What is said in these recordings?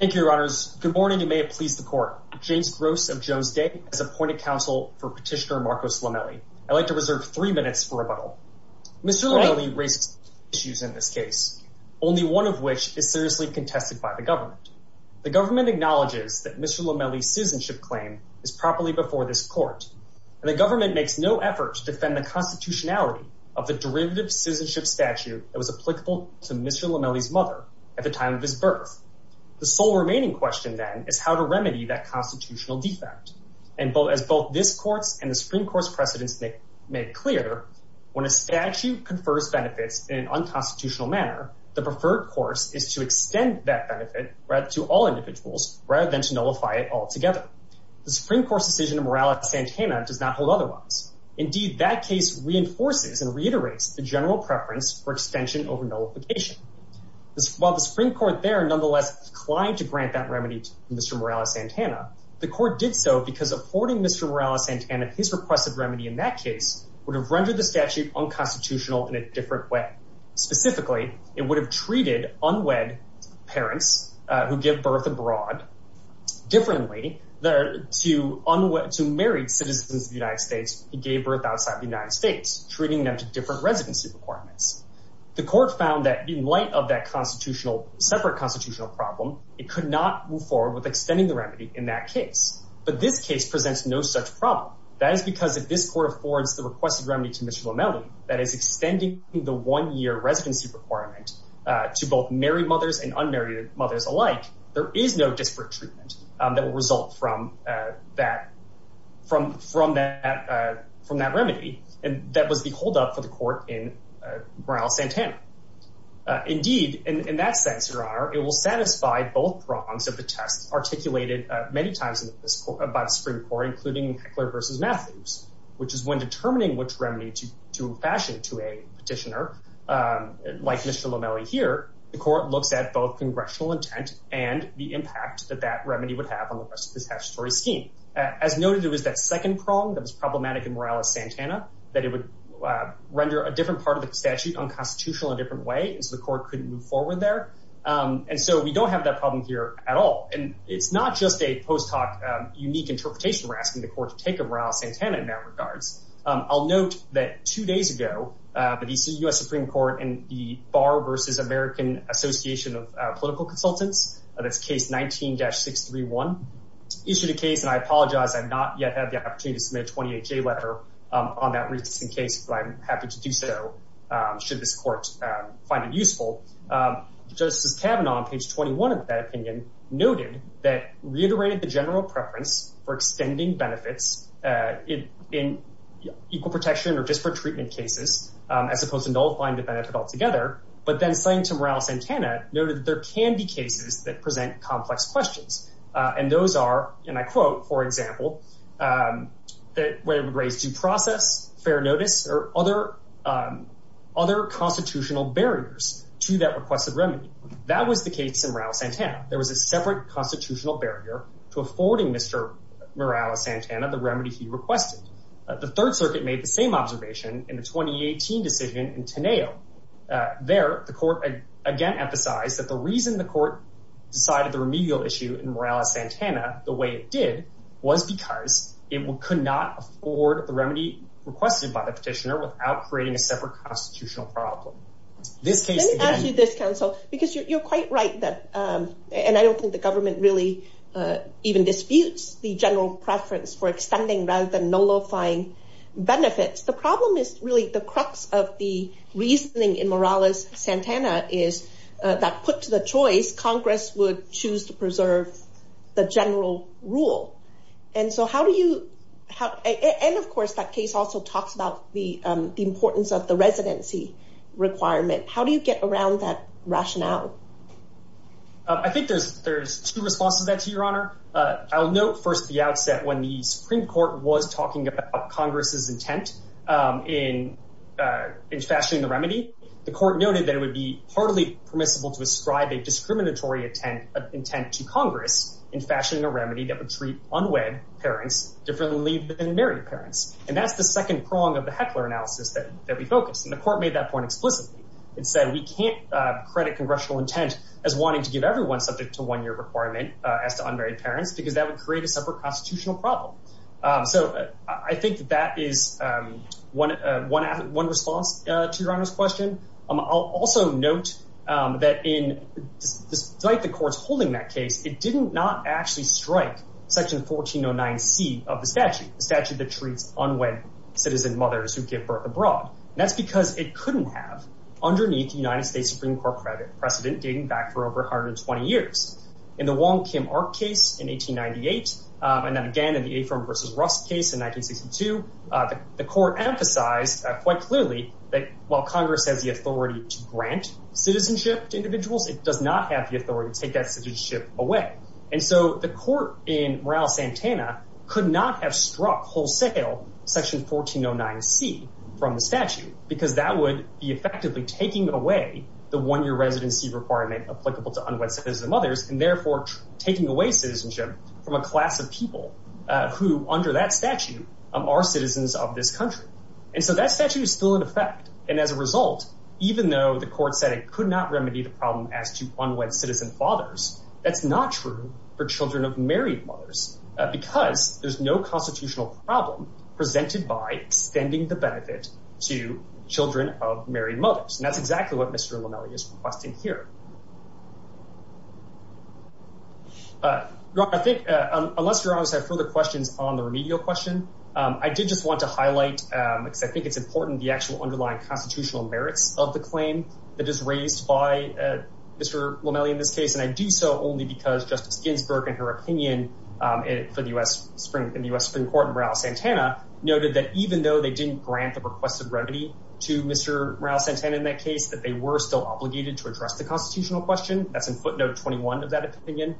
Mr. Lomeli raised issues in this case, only one of which is seriously contested by the government. The government acknowledges that Mr. Lomeli's citizenship claim is properly before this court, and the government makes no effort to defend the constitutionality of the derivative citizenship statute that was applicable to Mr. Lomeli's mother at the time of his birth. The sole remaining question, then, is how to remedy that constitutional defect. And as both this court's and the Supreme Court's precedents make clear, when a statute confers benefits in an unconstitutional manner, the preferred course is to extend that benefit to all individuals rather than to nullify it altogether. The Supreme Court's decision to Morales-Santana does not hold otherwise. Indeed, that case reinforces and reiterates the general preference for extension over nullification. While the Supreme Court there nonetheless declined to grant that remedy to Mr. Morales-Santana, the court did so because affording Mr. Morales-Santana his requested remedy in that case would have rendered the statute unconstitutional in a different way. Specifically, it would have treated unwed parents who give birth abroad differently to married citizens of the United States who gave birth outside the United States, treating them to different residency requirements. The court found that in light of that separate constitutional problem, it could not move forward with extending the remedy in that case. But this case presents no such problem. That is because if this court affords the requested remedy to Mr. Lomeli, that is extending the one-year residency requirement to both married mothers and unmarried mothers alike, there is no disparate treatment that will result from that remedy. And that was the holdup for the court in Morales-Santana. Indeed, in that sense, Your Honor, it will satisfy both prongs of the test articulated many times by the Supreme Court, including Heckler v. Matthews, which is when determining which remedy to fashion to a petitioner, like Mr. Lomeli here, the court looks at both congressional intent and the impact that that remedy would have on the rest of the statutory scheme. As noted, it was that second prong that was problematic in Morales-Santana that it would render a different part of the statute unconstitutional in a different way, and so the court couldn't move forward there. And so we don't have that problem here at all. And it's not just a post hoc unique interpretation we're asking the court to take of Morales-Santana in that regard. I'll note that two days ago, the U.S. Supreme Court and the Bar v. American Association of Political Consultants, that's case 19-631, issued a case, and I apologize, I've not yet had the opportunity to submit a 28-J letter on that recent case, but I'm happy to do so should this court find it useful. Justice Kavanaugh, on page 21 of that opinion, noted that reiterated the general preference for extending benefits in equal protection or disparate treatment cases, as opposed to nullifying the benefit altogether, but then, citing to Morales-Santana, noted that there can be cases that present complex questions, and those are, and I quote, for example, that would raise due process, fair notice, or other constitutional barriers to that requested remedy. That was the case in Morales-Santana. There was a separate constitutional barrier to affording Mr. Morales-Santana the remedy he requested. The Third Circuit made the same observation in the 2018 decision in Teneo. There, the court again emphasized that the reason the court decided the remedial issue in Morales-Santana the way it did was because it could not afford the remedy requested by the petitioner without creating a separate constitutional problem. Let me ask you this, counsel, because you're quite right that, and I don't think the government really even disputes the general preference for extending rather than nullifying benefits, the problem is really the crux of the reasoning in Morales-Santana is that, put to the choice, Congress would choose to preserve the general rule, and so how do you, and of course that case also talks about the importance of the residency requirement, how do you get around that rationale? I think there's two responses to that to your honor. I'll note first at the outset when the Supreme Court was talking about Congress's intent in fashioning the remedy, the court noted that it would be hardly permissible to ascribe a discriminatory intent to Congress in fashioning a remedy that would treat unwed parents differently than married parents, and that's the second prong of the Heckler analysis that we focused, the court made that point explicitly. It said we can't credit congressional intent as wanting to give everyone subject to one year requirement as to unmarried parents because that would create a separate constitutional problem. So I think that is one response to your honor's question. I'll also note that in, despite the courts holding that case, it did not actually strike section 1409c of the statute, the statute that treats unwed citizen mothers who give birth abroad, that's because it couldn't have underneath the United States Supreme Court precedent dating back for over 120 years. In the Wong Kim Ark case in 1898, and then again in the Afirm versus Rust case in 1962, the court emphasized quite clearly that while Congress has the authority to grant citizenship to individuals, it does not have the authority to take that citizenship away, and so the court in Morales-Santana could not have struck wholesale section 1409c from the statute because that would be effectively taking away the one-year residency requirement applicable to unwed citizen mothers and therefore taking away citizenship from a class of people who, under that statute, are citizens of this country. And so that statute is still in effect, and as a result, even though the court said it could not remedy the problem as to unwed citizen fathers, that's not true for children of married mothers, because there's no constitutional problem presented by extending the benefit to children of married mothers, and that's exactly what Mr. Lomelli is requesting here. I think, unless you guys have further questions on the remedial question, I did just want to highlight, because I think it's important, the actual underlying constitutional merits of the claim that is raised by Mr. Lomelli in this case, and I do so only because Justice Ginsburg, in her opinion for the U.S. Supreme Court in Morales-Santana, noted that even though they didn't grant the requested remedy to Mr. Morales-Santana in that case, that they were still obligated to address the constitutional question. That's in footnote 21 of that opinion,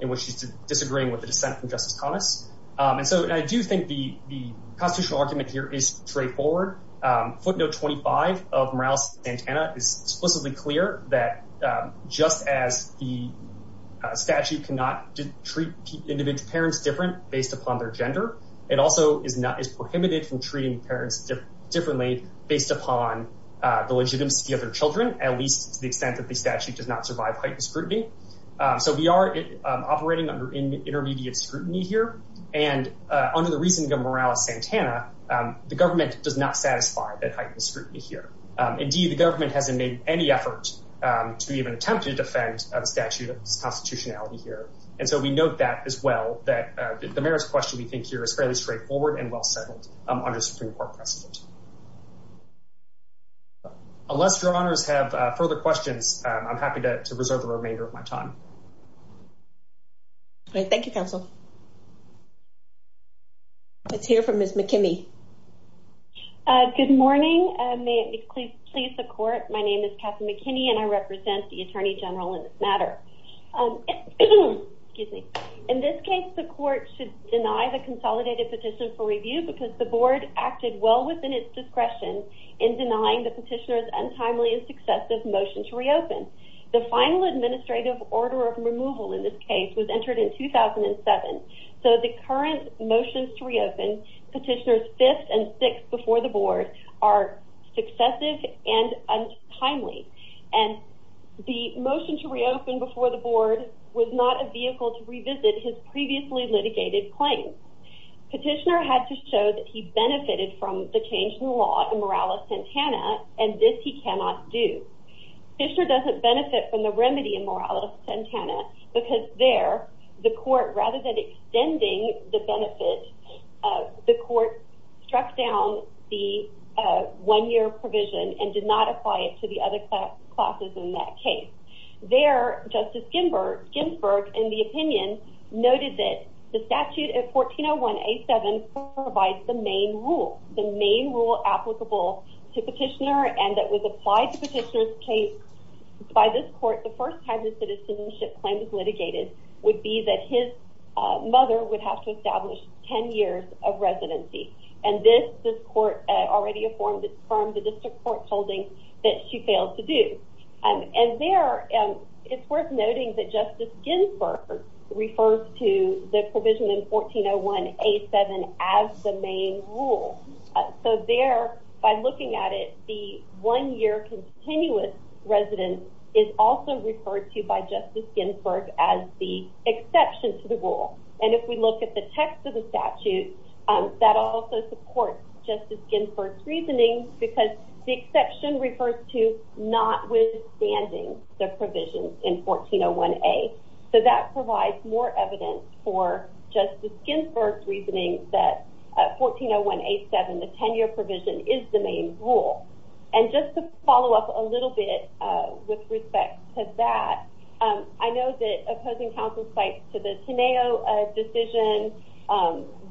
in which she's disagreeing with the dissent from Justice Connors, and so I do think the constitutional argument here is straightforward. Footnote 25 of Morales-Santana is explicitly clear that just as the statute cannot treat individual parents different based upon their gender, it also is prohibited from treating parents differently based upon the legitimacy of their children, at least to the extent that the statute does not survive heightened scrutiny here, and under the reasoning of Morales-Santana, the government does not satisfy that heightened scrutiny here. Indeed, the government hasn't made any effort to even attempt to defend the statute of its constitutionality here, and so we note that as well, that the merits question we think here is fairly straightforward and well settled under Supreme Court precedent. Unless your honors have further questions, I'm happy to reserve the remainder of my time. All right. Thank you, counsel. Let's hear from Ms. McKinney. Good morning. May it please the court, my name is Kathy McKinney and I represent the Attorney General in this matter. In this case, the court should deny the consolidated petition for review because the board acted well within its discretion in denying the petitioner's was entered in 2007, so the current motions to reopen petitioners fifth and sixth before the board are successive and untimely, and the motion to reopen before the board was not a vehicle to revisit his previously litigated claims. Petitioner had to show that he benefited from the change in the law in Morales-Santana, and this he cannot do. Petitioner doesn't benefit from the remedy in there. The court, rather than extending the benefit, the court struck down the one-year provision and did not apply it to the other classes in that case. There, Justice Ginsburg, in the opinion, noted that the statute at 1401A7 provides the main rule, the main rule applicable to petitioner and that was applied to petitioner's case by this court the first time the citizenship claim was litigated would be that his mother would have to establish 10 years of residency, and this this court already affirmed it from the district court holding that she failed to do. And there, it's worth noting that Justice Ginsburg refers to the provision in 1401A7 as the main rule. So there, by looking at it, the one-year continuous residence is also referred to by Justice Ginsburg as the exception to the rule. And if we look at the text of the statute, that also supports Justice Ginsburg's reasoning because the exception refers to notwithstanding the provisions in 1401A. So that provides more evidence for Justice Ginsburg's reasoning that 1401A7, the 10-year provision, is the main rule. And just to follow up a little bit with respect to that, I know that opposing counsel's fight to the Teneo decision,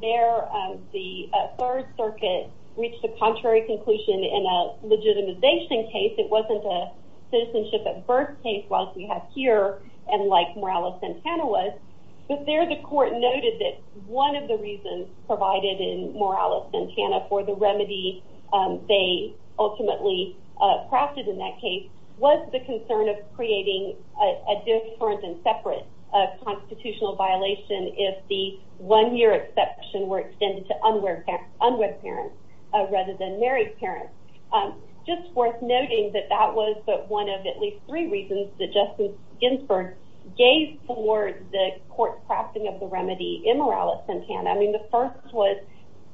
there the Third Circuit reached a contrary conclusion in a legitimization case. It wasn't a citizenship at birth case like we have here and like Morales-Santana was, but there the court noted that one of the reasons provided in Morales-Santana for the remedy they ultimately crafted in that case was the concern of creating a different and separate constitutional violation if the one-year exception were extended to unwed parents rather than married parents. Just worth noting that that was one of at least three reasons that Justice Ginsburg gave for the court's crafting of the remedy in Morales-Santana. I mean, the first was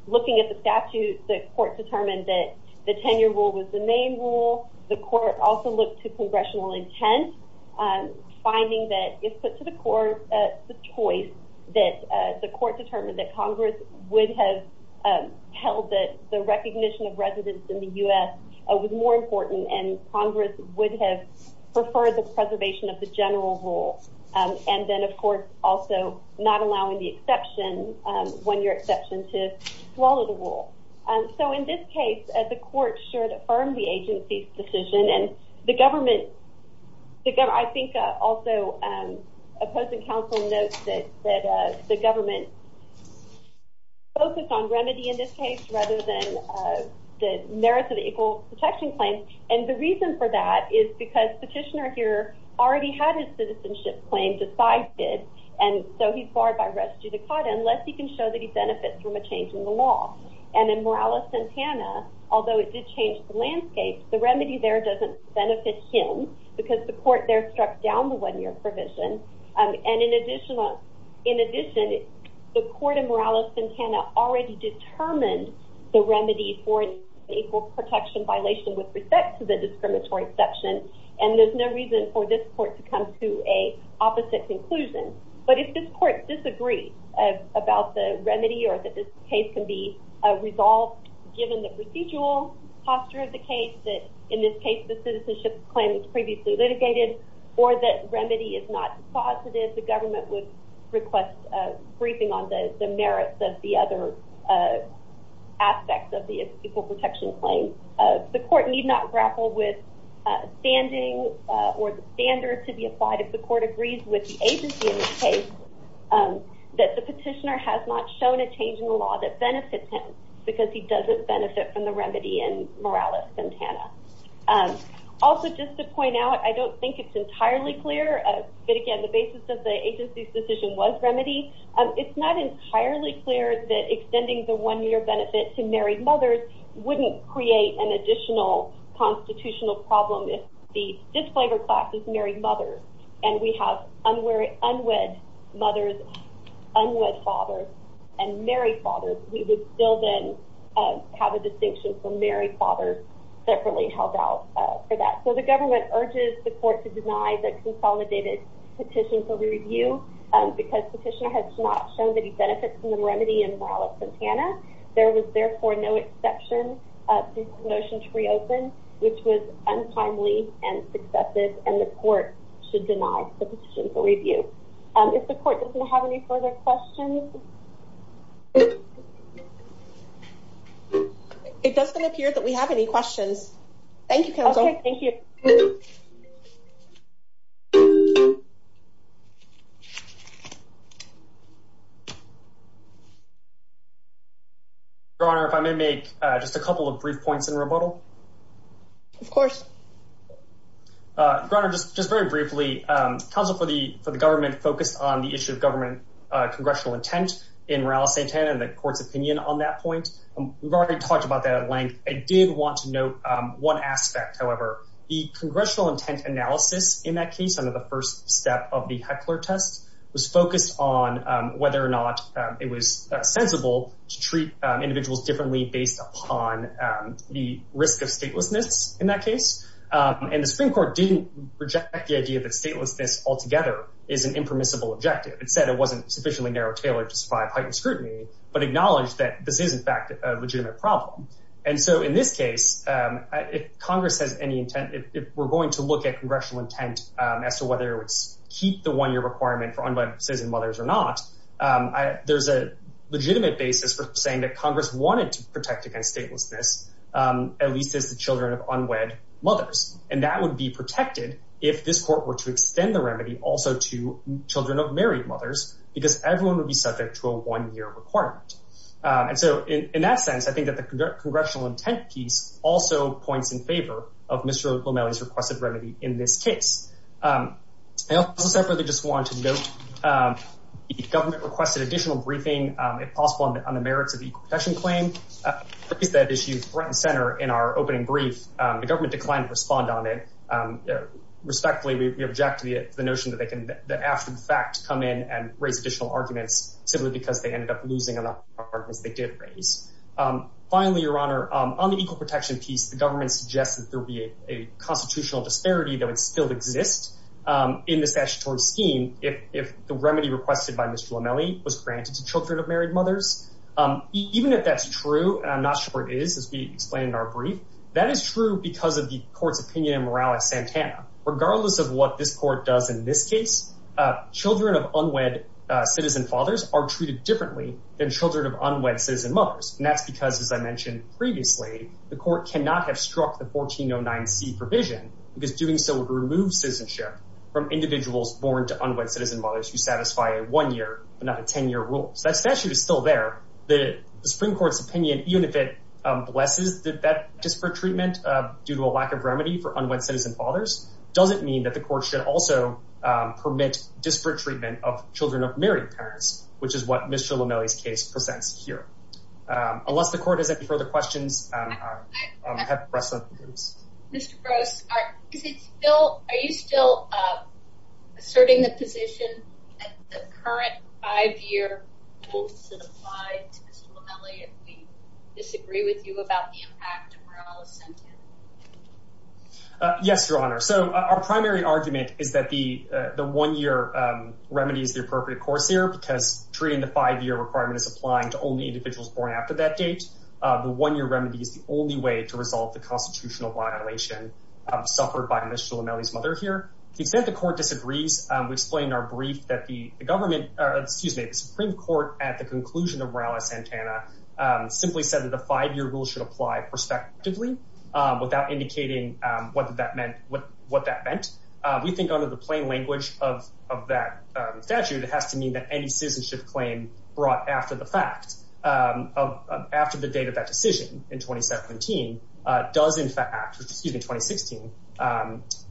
looking at the statute. The court determined that the 10-year rule was the main rule. The court also looked to congressional intent, finding that if put to the court the choice that the court determined that Congress would have held that the recognition of residents in the U.S. was more important and Congress would have preferred the preservation of the general rule. And then, of course, also not allowing the exception, one-year exception, to swallow the rule. So in this case, the court should affirm the agency's decision and the government, I think also opposing counsel notes that the government focused on remedy in this case rather than the merits of the equal protection claim. And the reason for that is because petitioner here already had his citizenship claim decided and so he's benefit from a change in the law. And in Morales-Santana, although it did change the landscape, the remedy there doesn't benefit him because the court there struck down the one-year provision. And in addition, the court in Morales-Santana already determined the remedy for an equal protection violation with respect to the discriminatory exception and there's no reason for this court to come to an opposite conclusion. But if this court disagrees about the remedy or that this case can be resolved given the procedural posture of the case, that in this case the citizenship claim was previously litigated, or that remedy is not positive, the government would request a briefing on the merits of the other aspects of the equal protection claim. The court need not grapple with standing or the standard to be applied if the court agrees with the agency in this case that the petitioner has not shown a change in the law that benefits him because he doesn't benefit from the remedy in Morales-Santana. Also just to point out, I don't think it's entirely clear, but again the basis of the agency's decision was remedy. It's not entirely clear that extending the problem if the disclaimer class is married mothers and we have unwed mothers, unwed fathers, and married fathers, we would still then have a distinction for married fathers separately held out for that. So the government urges the court to deny the consolidated petition for review because the petitioner has not shown that he benefits from the remedy in Morales-Santana. There was therefore no exception to the motion to reopen, which was untimely and successive, and the court should deny the petition for review. If the court doesn't have any further questions? It doesn't appear that we have any questions. Thank you, counsel. Thank you, Your Honor. If I may make just a couple of brief points in rebuttal. Of course. Your Honor, just very briefly, counsel for the government focused on the issue of government congressional intent in Morales-Santana and the court's opinion on that point. We've already talked about that at length. I did want to note one aspect. However, the congressional intent analysis in that case under the first step of the Heckler test was focused on whether or not it was sensible to treat individuals differently based upon the risk of statelessness in that case. And the Supreme Court didn't reject the idea that statelessness altogether is an impermissible objective. It said it wasn't sufficiently tailored to survive heightened scrutiny, but acknowledged that this is, in fact, a legitimate problem. And so in this case, if Congress has any intent, if we're going to look at congressional intent as to whether it would keep the one-year requirement for unwed citizen mothers or not, there's a legitimate basis for saying that Congress wanted to protect against statelessness, at least as the children of unwed mothers. And that would be protected if this court were to extend the remedy also to children of married mothers, because everyone would be subject to a one-year requirement. And so in that sense, I think that the congressional intent piece also points in favor of Mr. Lomelli's requested remedy in this case. I also separately just want to note the government requested additional briefing, if possible, on the merits of the equal protection claim. That issue is front and center in our opening brief. The government declined to respond on it. Respectfully, we object to the notion that they can, after the fact, come in and raise additional arguments simply because they ended up losing enough arguments they did raise. Finally, Your Honor, on the equal protection piece, the government suggests that there would be a constitutional disparity that would still exist in the statutory scheme if the remedy requested by Mr. Lomelli was granted to children of married mothers. Even if that's true, and I'm not sure it is, as we explained in our brief, that is true because of the court's opinion in Morales-Santana. Regardless of what this court does in this case, children of unwed citizen fathers are treated differently than children of unwed citizen mothers. And that's because, as I mentioned previously, the court cannot have struck the 1409C provision, because doing so would remove citizenship from individuals born to unwed citizen mothers who satisfy a one-year but not a 10-year rule. So it's still there. The Supreme Court's opinion, even if it blesses that disparate treatment due to a lack of remedy for unwed citizen fathers, doesn't mean that the court should also permit disparate treatment of children of married parents, which is what Mr. Lomelli's case presents here. Unless the court has any further questions, I have the rest of the groups. Mr. Gross, are you still asserting the position that the current five-year rule should apply to Mr. Lomelli if we disagree with you about the impact of Morales-Santana? Yes, Your Honor. So our primary argument is that the one-year remedy is the appropriate course here, because treating the five-year requirement is applying to only individuals born after that date. The one-year remedy is the only way to resolve the constitutional violation suffered by Mr. Lomelli's mother here. To the extent the court disagrees, we explain in our brief that the Supreme Court at the conclusion of Morales-Santana simply said that the five-year rule should apply prospectively without indicating what that meant. We think, under the plain language of that statute, it has to mean that any citizenship claim brought after the fact, after the date of that decision in 2017, does in fact, excuse me, 2016,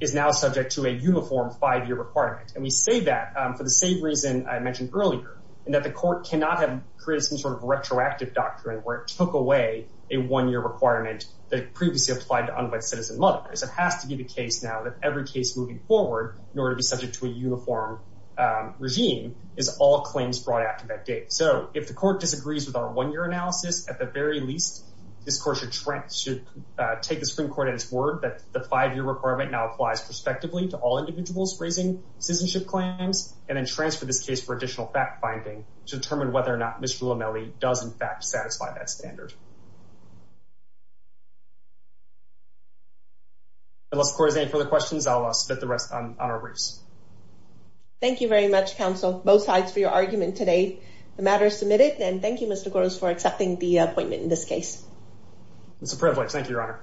is now subject to a uniform five-year requirement. And we say that for the same reason I mentioned earlier, in that the court cannot have created some sort of retroactive doctrine where it took away a one-year requirement that previously applied to unwed citizen mothers. It has to be the case now that every case moving forward, in order to be subject to a uniform regime, is all claims brought after that date. So if the court disagrees with our one-year analysis, at the very least, this court should take the Supreme Court at its word that the five-year requirement now applies prospectively to all individuals raising citizenship claims, and then transfer this case for additional fact-finding to determine whether or not Mr. Lomelli does in fact satisfy that standard. Unless the court has any further questions, I'll spit the rest on our briefs. Thank you very much, counsel, both sides for your argument today. The matter is submitted, and thank you, Mr. Gross, for accepting the appointment in this case. It's a privilege. Thank you, Your Honor.